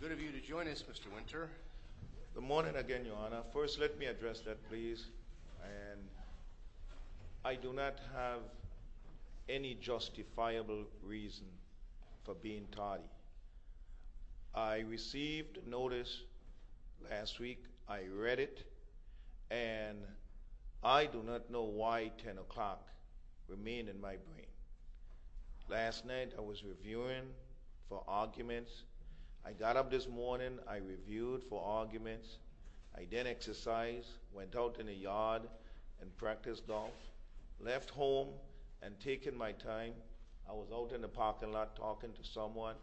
Good of you to join us, Mr. Winter. Good morning, Your Honor. First, let me address that, please. I do not have any justifiable reason for being tardy. I received notice last week, I read it, and I do not know why 10 o'clock remained in my brain. Last night, I was reviewing for arguments. I got up this morning, I reviewed for arguments, I did exercise, went out in the yard and practiced golf, left home and taking my time. I was out in the parking lot talking to someone.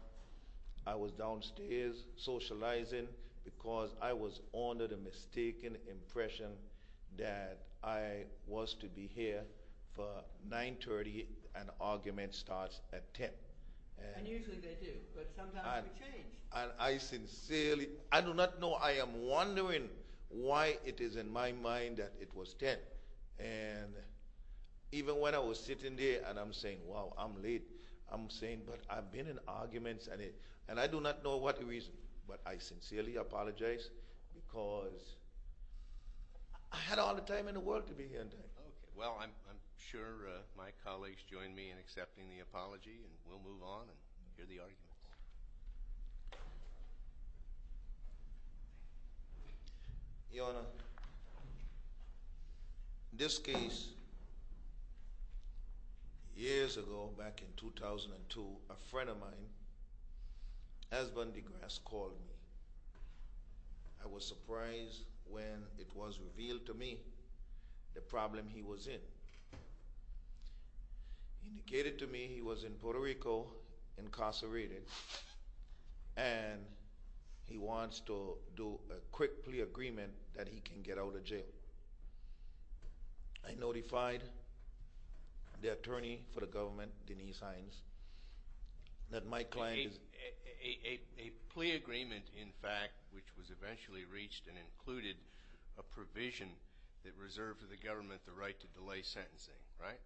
I was downstairs socializing because I was under the mistaken impression that I was to be here for 9.30 and arguments start at 10. And usually they do, but sometimes they change. I do not know, I am wondering why it is in my mind that it was 10. And even when I was sitting there and I'm saying, wow, I'm late, I'm saying, but I've been in arguments and I do not know what the reason is. But I sincerely apologize because I had all the time in the world to be here in time. Okay, well, I'm sure my colleagues join me in accepting the apology and we'll move on and hear the arguments. Your Honor, this case, years ago, back in 2002, a friend of mine, Esmond DeGrasse, called me. I was surprised when it was revealed to me the problem he was in. He indicated to me he was in Puerto Rico, incarcerated, and he wants to do a quick plea agreement that he can get out of jail. I notified the attorney for the government, Denise Hines, that my client is… A plea agreement, in fact, which was eventually reached and included a provision that reserved for the government the right to delay sentencing, right?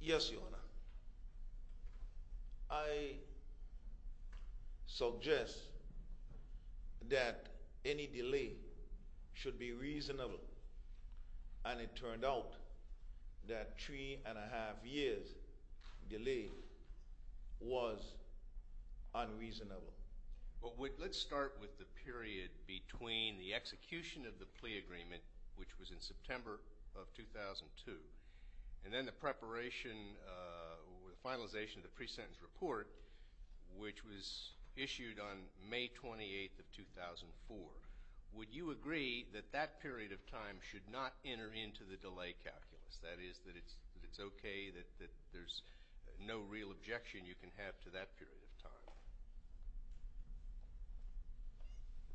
Yes, Your Honor. I suggest that any delay should be reasonable, and it turned out that three and a half years' delay was unreasonable. Let's start with the period between the execution of the plea agreement, which was in September of 2002, and then the preparation or the finalization of the pre-sentence report, which was issued on May 28th of 2004. Would you agree that that period of time should not enter into the delay calculus? That is, that it's okay that there's no real objection you can have to that period of time?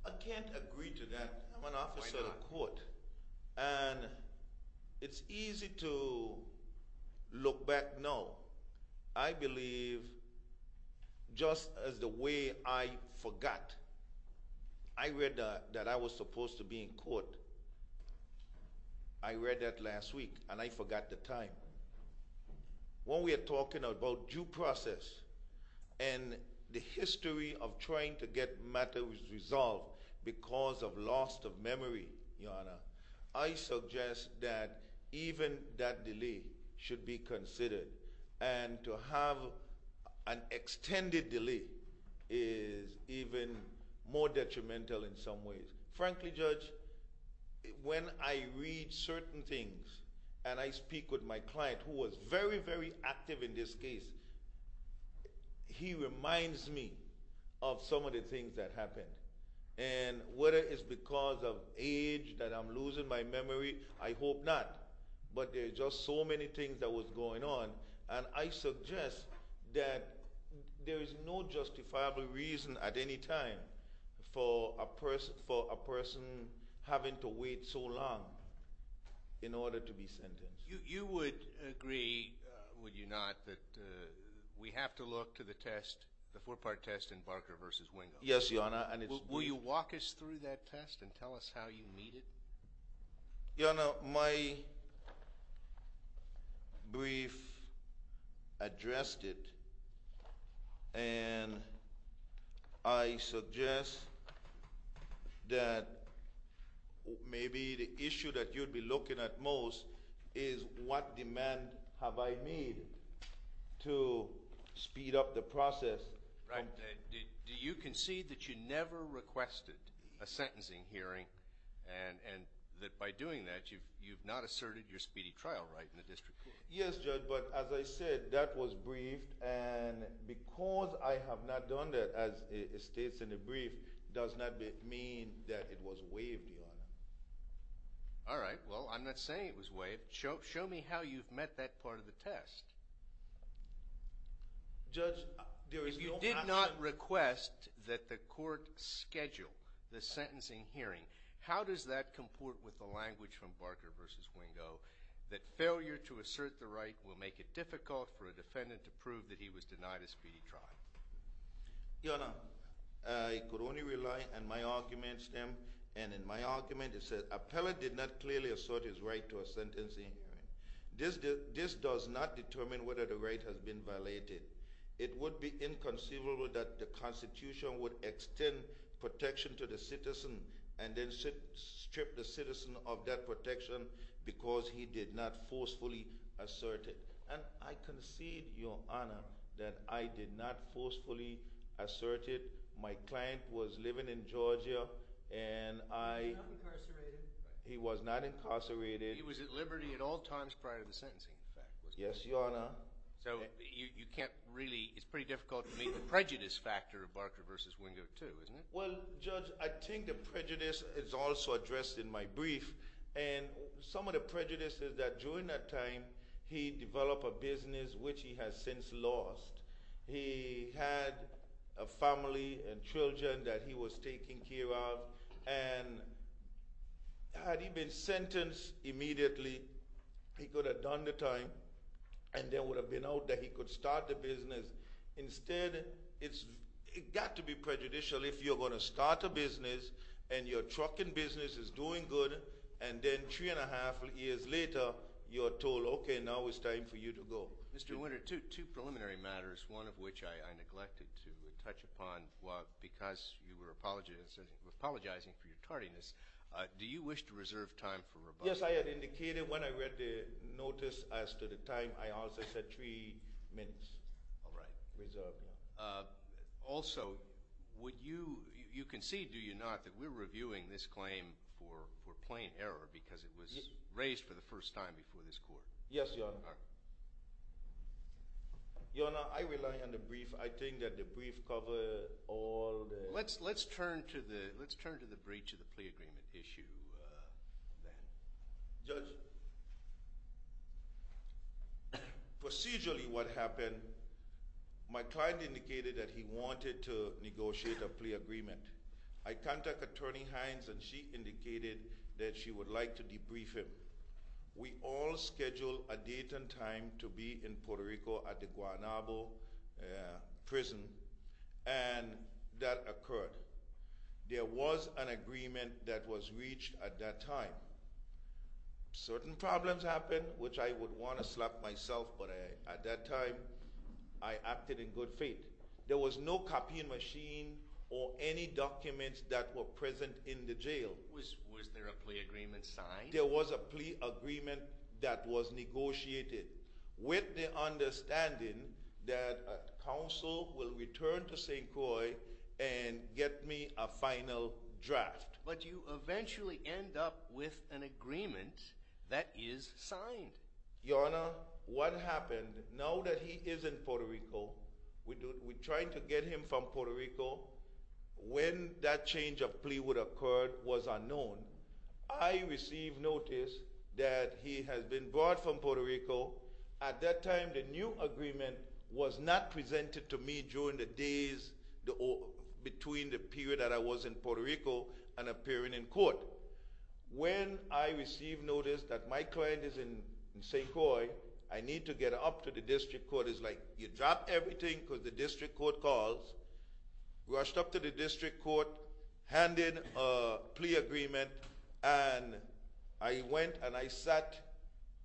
I can't agree to that. I'm an officer of the court, and it's easy to look back now. I believe, just as the way I forgot, I read that I was supposed to be in court. I read that last week, and I forgot the time. When we are talking about due process and the history of trying to get matters resolved because of loss of memory, Your Honor, I suggest that even that delay should be considered, and to have an extended delay is even more detrimental in some ways. Frankly, Judge, when I read certain things and I speak with my client, who was very, very active in this case, he reminds me of some of the things that happened. And whether it's because of age that I'm losing my memory, I hope not. But there are just so many things that were going on, and I suggest that there is no justifiable reason at any time for a person having to wait so long in order to be sentenced. You would agree, would you not, that we have to look to the test, the four-part test in Barker v. Wingo? Yes, Your Honor. Will you walk us through that test and tell us how you meet it? Your Honor, my brief addressed it, and I suggest that maybe the issue that you'd be looking at most is what demand have I made to speed up the process? Do you concede that you never requested a sentencing hearing, and that by doing that you've not asserted your speedy trial right in the district court? Yes, Judge, but as I said, that was briefed, and because I have not done that, as it states in the brief, does not mean that it was waived, Your Honor. All right, well, I'm not saying it was waived. Show me how you've met that part of the test. Judge, there is no option. If you did not request that the court schedule the sentencing hearing, how does that comport with the language from Barker v. Wingo, that failure to assert the right will make it difficult for a defendant to prove that he was denied a speedy trial? Your Honor, I could only rely on my argument stem, and in my argument, it says appellate did not clearly assert his right to a sentencing hearing. This does not determine whether the right has been violated. It would be inconceivable that the Constitution would extend protection to the citizen and then strip the citizen of that protection because he did not forcefully assert it. And I concede, Your Honor, that I did not forcefully assert it. My client was living in Georgia, and I – He was not incarcerated. He was not incarcerated. He was at liberty at all times prior to the sentencing, in fact, wasn't he? Yes, Your Honor. So you can't really – it's pretty difficult to meet the prejudice factor of Barker v. Wingo too, isn't it? Well, Judge, I think the prejudice is also addressed in my brief, and some of the prejudice is that during that time, he developed a business which he has since lost. He had a family and children that he was taking care of, and had he been sentenced immediately, he could have done the time and there would have been out that he could start the business. Instead, it's – it got to be prejudicial if you're going to start a business and your trucking business is doing good, and then three and a half years later, you're told, okay, now it's time for you to go. Mr. Wingo, two preliminary matters, one of which I neglected to touch upon because you were apologizing for your tardiness. Do you wish to reserve time for rebuttal? Yes, I had indicated when I read the notice as to the time. I also said three minutes reserved. Also, would you – you concede, do you not, that we're reviewing this claim for plain error because it was raised for the first time before this court? Yes, Your Honor. Your Honor, I rely on the brief. I think that the brief cover all the – Let's turn to the breach of the plea agreement issue then. Judge, procedurally what happened, my client indicated that he wanted to negotiate a plea agreement. I contacted Attorney Hines, and she indicated that she would like to debrief him. We all scheduled a date and time to be in Puerto Rico at the Guanabo prison, and that occurred. There was an agreement that was reached at that time. Certain problems happened, which I would want to slap myself, but at that time, I acted in good faith. There was no copying machine or any documents that were present in the jail. Was there a plea agreement signed? There was a plea agreement that was negotiated with the understanding that counsel will return to St. Croix and get me a final draft. But you eventually end up with an agreement that is signed. Your Honor, what happened, now that he is in Puerto Rico, we tried to get him from Puerto Rico. When that change of plea would occur was unknown. I received notice that he has been brought from Puerto Rico. At that time, the new agreement was not presented to me during the days between the period that I was in Puerto Rico and appearing in court. When I received notice that my client is in St. Croix, I need to get up to the district court. It's like you drop everything because the district court calls. Rushed up to the district court, handed a plea agreement, and I went and I sat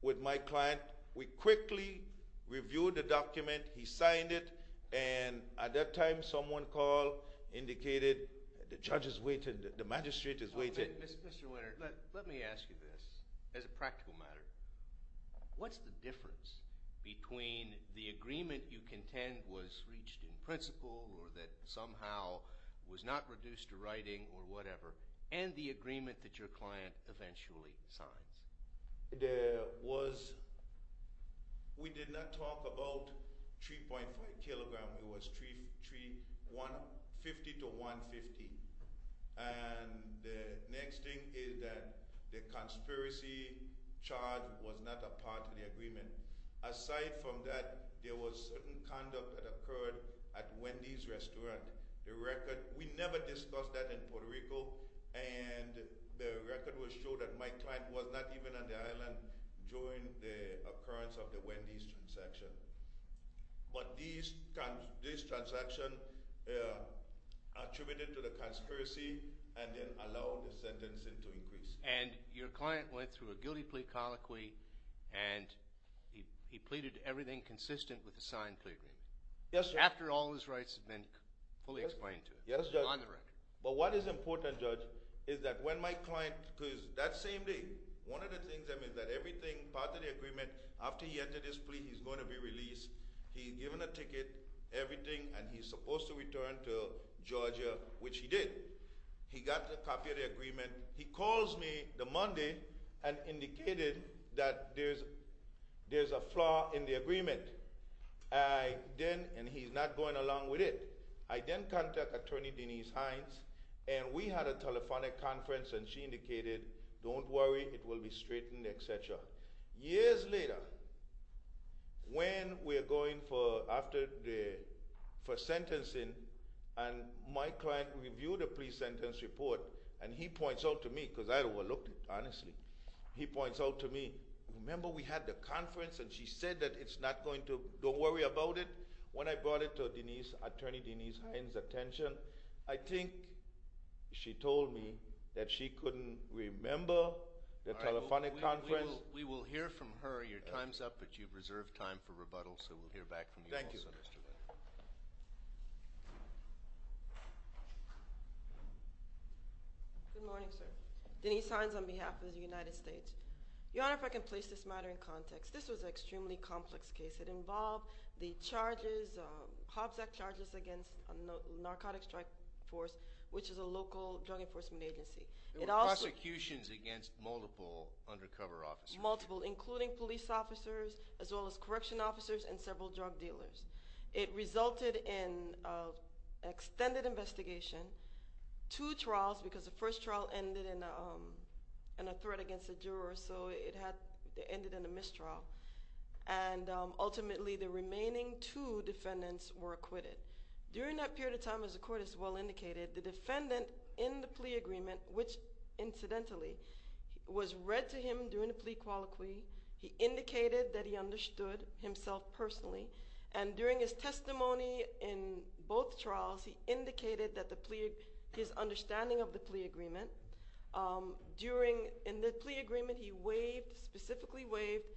with my client. We quickly reviewed the document. He signed it, and at that time, someone called, indicated the judge is waiting, the magistrate is waiting. Mr. Winter, let me ask you this as a practical matter. What's the difference between the agreement you contend was reached in principle or that somehow was not reduced to writing or whatever, and the agreement that your client eventually signs? We did not talk about 3.5 kilograms. It was 50 to 150. And the next thing is that the conspiracy charge was not a part of the agreement. Aside from that, there was certain conduct that occurred at Wendy's Restaurant. We never discussed that in Puerto Rico, and the record will show that my client was not even on the island during the occurrence of the Wendy's transaction. But this transaction attributed to the conspiracy and then allowed the sentencing to increase. And your client went through a guilty plea colloquy, and he pleaded everything consistent with the signed plea agreement. Yes, sir. After all his rights have been fully explained to him. Yes, Judge. It's on the record. But what is important, Judge, is that when my client, because that same day, one of the things, I mean, that everything, part of the agreement, after he entered his plea, he's going to be released. He's given a ticket, everything, and he's supposed to return to Georgia, which he did. He got a copy of the agreement. He calls me the Monday and indicated that there's a flaw in the agreement. I then, and he's not going along with it, I then contact Attorney Denise Hines, and we had a telephonic conference, and she indicated, don't worry, it will be straightened, etc. Years later, when we're going for, after the, for sentencing, and my client reviewed the plea sentence report, and he points out to me, because I overlooked it, honestly, he points out to me, remember we had the conference, and she said that it's not going to, don't worry about it. When I brought it to Denise, Attorney Denise Hines' attention, I think she told me that she couldn't remember the telephonic conference. We will hear from her. Your time's up, but you've reserved time for rebuttal, so we'll hear back from you also. Thank you. Good morning, sir. Denise Hines on behalf of the United States. Your Honor, if I can place this matter in context. This was an extremely complex case. It involved the charges, Hobbs Act charges, against Narcotics Strike Force, which is a local drug enforcement agency. There were prosecutions against multiple undercover officers. Multiple, including police officers, as well as correction officers, and several drug dealers. It resulted in an extended investigation, two trials, because the first trial ended in a threat against a juror, so it ended in a mistrial. And ultimately, the remaining two defendants were acquitted. During that period of time, as the court has well indicated, the defendant, in the plea agreement, which incidentally, was read to him during the plea colloquy. He indicated that he understood himself personally, and during his testimony in both trials, he indicated his understanding of the plea agreement. In the plea agreement, he specifically waived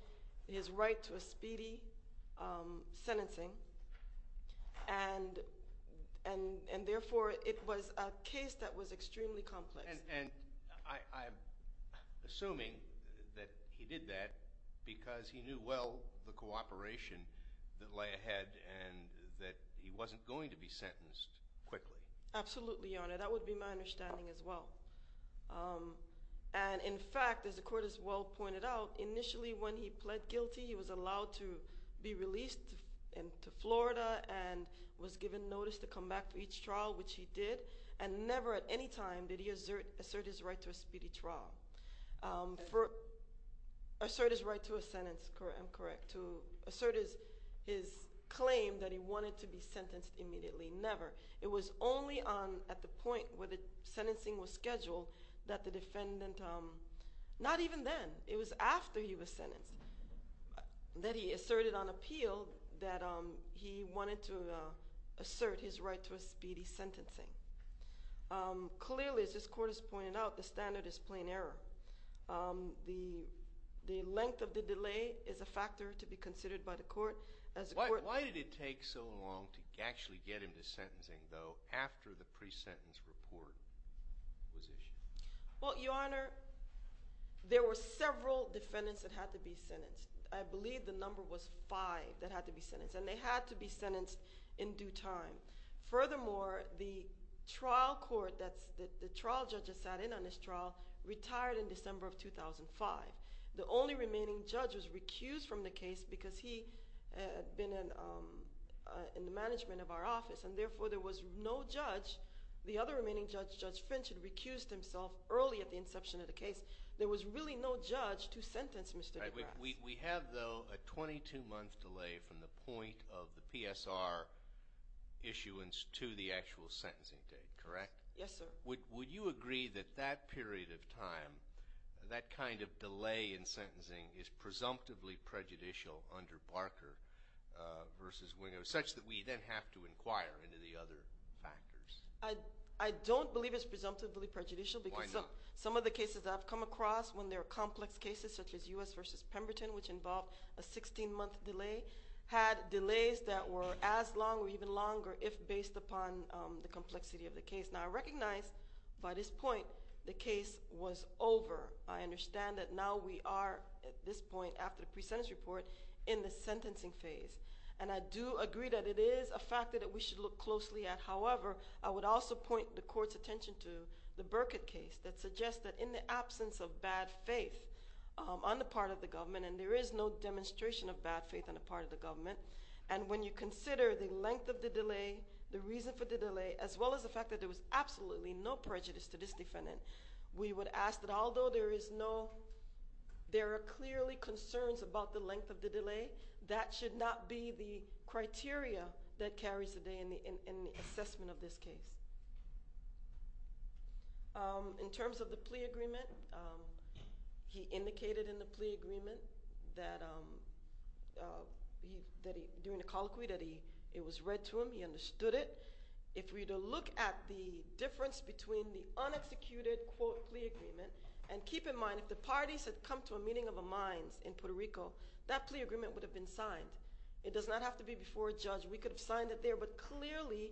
his right to a speedy sentencing, and therefore, it was a case that was extremely complex. And I'm assuming that he did that because he knew well the cooperation that lay ahead, and that he wasn't going to be sentenced quickly. Absolutely, Your Honor. That would be my understanding as well. And in fact, as the court has well pointed out, initially, when he pled guilty, he was allowed to be released to Florida, and was given notice to come back for each trial, which he did. And never at any time did he assert his right to a speedy trial. Assert his right to a sentence, I'm correct, to assert his claim that he wanted to be sentenced immediately. Never. It was only at the point where the sentencing was scheduled that the defendant, not even then, it was after he was sentenced, that he asserted on appeal that he wanted to assert his right to a speedy sentencing. Clearly, as this court has pointed out, the standard is plain error. The length of the delay is a factor to be considered by the court. Why did it take so long to actually get him to sentencing, though, after the pre-sentence report was issued? Well, Your Honor, there were several defendants that had to be sentenced. I believe the number was five that had to be sentenced, and they had to be sentenced in due time. Furthermore, the trial court that the trial judges sat in on this trial retired in December of 2005. The only remaining judge was recused from the case because he had been in the management of our office, and therefore there was no judge. The other remaining judge, Judge Finch, had recused himself early at the inception of the case. There was really no judge to sentence Mr. de Grasse. We have, though, a 22-month delay from the point of the PSR issuance to the actual sentencing date, correct? Yes, sir. Would you agree that that period of time, that kind of delay in sentencing, is presumptively prejudicial under Barker versus Winger, such that we then have to inquire into the other factors? I don't believe it's presumptively prejudicial. Why not? Because some of the cases I've come across, when there are complex cases such as U.S. versus Pemberton, which involved a 16-month delay, had delays that were as long or even longer if based upon the complexity of the case. Now, I recognize by this point the case was over. I understand that now we are, at this point after the pre-sentence report, in the sentencing phase. And I do agree that it is a factor that we should look closely at. However, I would also point the court's attention to the Burkitt case that suggests that in the absence of bad faith on the part of the government, and there is no demonstration of bad faith on the part of the government, and when you consider the length of the delay, the reason for the delay, as well as the fact that there was absolutely no prejudice to this defendant, we would ask that although there are clearly concerns about the length of the delay, that should not be the criteria that carries the day in the assessment of this case. In terms of the plea agreement, he indicated in the plea agreement that during the colloquy that it was read to him. He understood it. If we were to look at the difference between the unexecuted, quote, plea agreement, and keep in mind if the parties had come to a meeting of the minds in Puerto Rico, that plea agreement would have been signed. It does not have to be before a judge. We could have signed it there, but clearly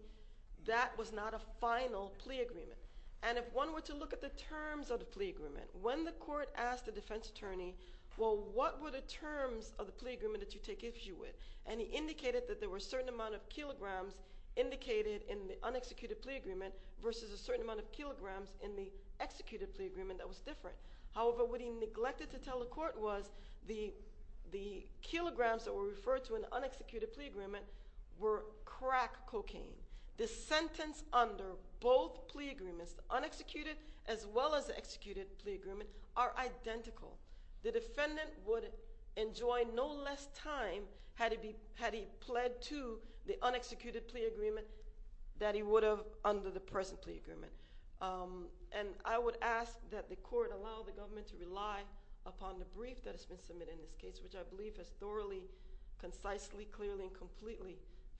that was not a final plea agreement. And if one were to look at the terms of the plea agreement, when the court asked the defense attorney, well, what were the terms of the plea agreement that you take issue with? And he indicated that there were a certain amount of kilograms indicated in the unexecuted plea agreement versus a certain amount of kilograms in the executed plea agreement that was different. However, what he neglected to tell the court was the kilograms that were referred to in the unexecuted plea agreement were crack cocaine. The sentence under both plea agreements, the unexecuted as well as the executed plea agreement, are identical. The defendant would enjoy no less time had he pled to the unexecuted plea agreement that he would have under the present plea agreement. And I would ask that the court allow the government to rely upon the brief that has been submitted in this case, which I believe has thoroughly, concisely, clearly, and completely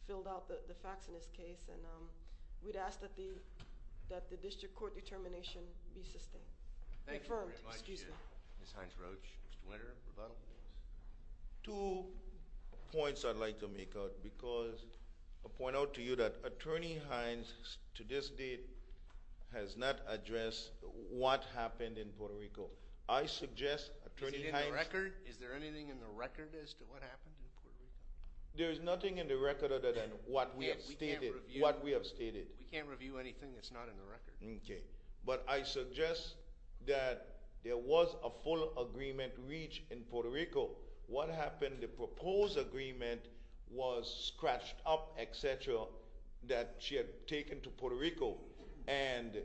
filled out the facts in this case. And we'd ask that the district court determination be sustained. Thank you very much, Ms. Hines-Roach. Mr. Winter, rebuttal? Two points I'd like to make out because I'll point out to you that Attorney Hines, to this date, has not addressed what happened in Puerto Rico. I suggest Attorney Hines – Is it in the record? Is there anything in the record as to what happened in Puerto Rico? There is nothing in the record other than what we have stated. Okay. But I suggest that there was a full agreement reached in Puerto Rico. What happened, the proposed agreement was scratched up, etc., that she had taken to Puerto Rico. And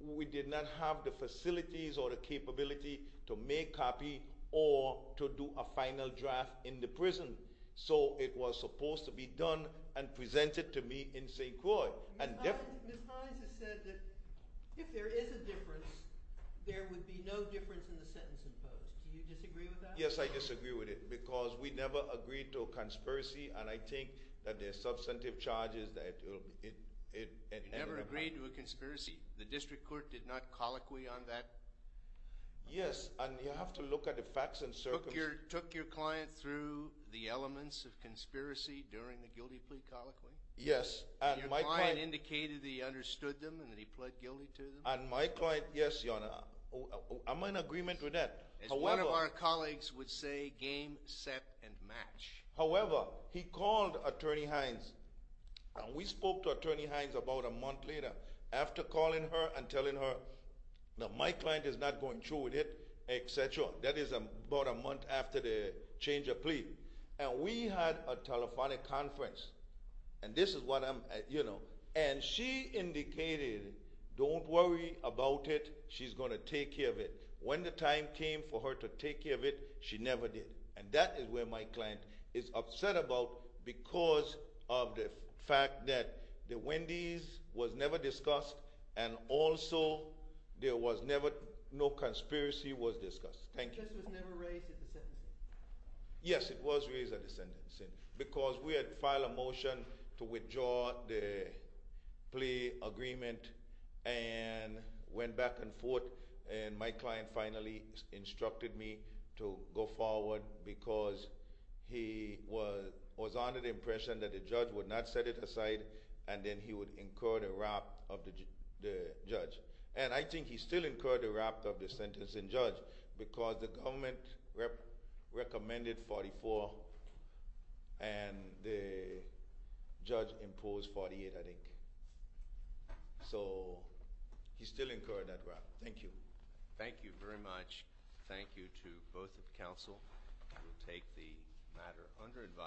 we did not have the facilities or the capability to make copy or to do a final draft in the prison. So it was supposed to be done and presented to me in St. Croix. Ms. Hines has said that if there is a difference, there would be no difference in the sentence imposed. Do you disagree with that? Yes, I disagree with it because we never agreed to a conspiracy, and I think that there are substantive charges that it – You never agreed to a conspiracy? The district court did not colloquy on that? Yes, and you have to look at the facts and circumstances. Took your client through the elements of conspiracy during the guilty plea colloquy? Yes, and my client – Your client indicated that he understood them and that he pled guilty to them? And my client – yes, Your Honor, I'm in agreement with that. However – As one of our colleagues would say, game, set, and match. However, he called Attorney Hines, and we spoke to Attorney Hines about a month later after calling her and telling her, no, my client is not going through with it, etc. That is about a month after the change of plea. And we had a telephonic conference, and this is what I'm – you know, and she indicated, don't worry about it. She's going to take care of it. When the time came for her to take care of it, she never did. And that is what my client is upset about because of the fact that the Wendy's was never discussed, and also there was never – no conspiracy was discussed. Thank you. The case was never raised at the sentencing? Yes, it was raised at the sentencing because we had filed a motion to withdraw the plea agreement and went back and forth, and my client finally instructed me to go forward because he was under the impression that the judge would not set it aside, and then he would incur the wrath of the judge. And I think he still incurred the wrath of the sentencing judge because the government recommended 44, and the judge imposed 48, I think. So he still incurred that wrath. Thank you. Thank you very much. Thank you to both of the counsel. We will take the matter under advice.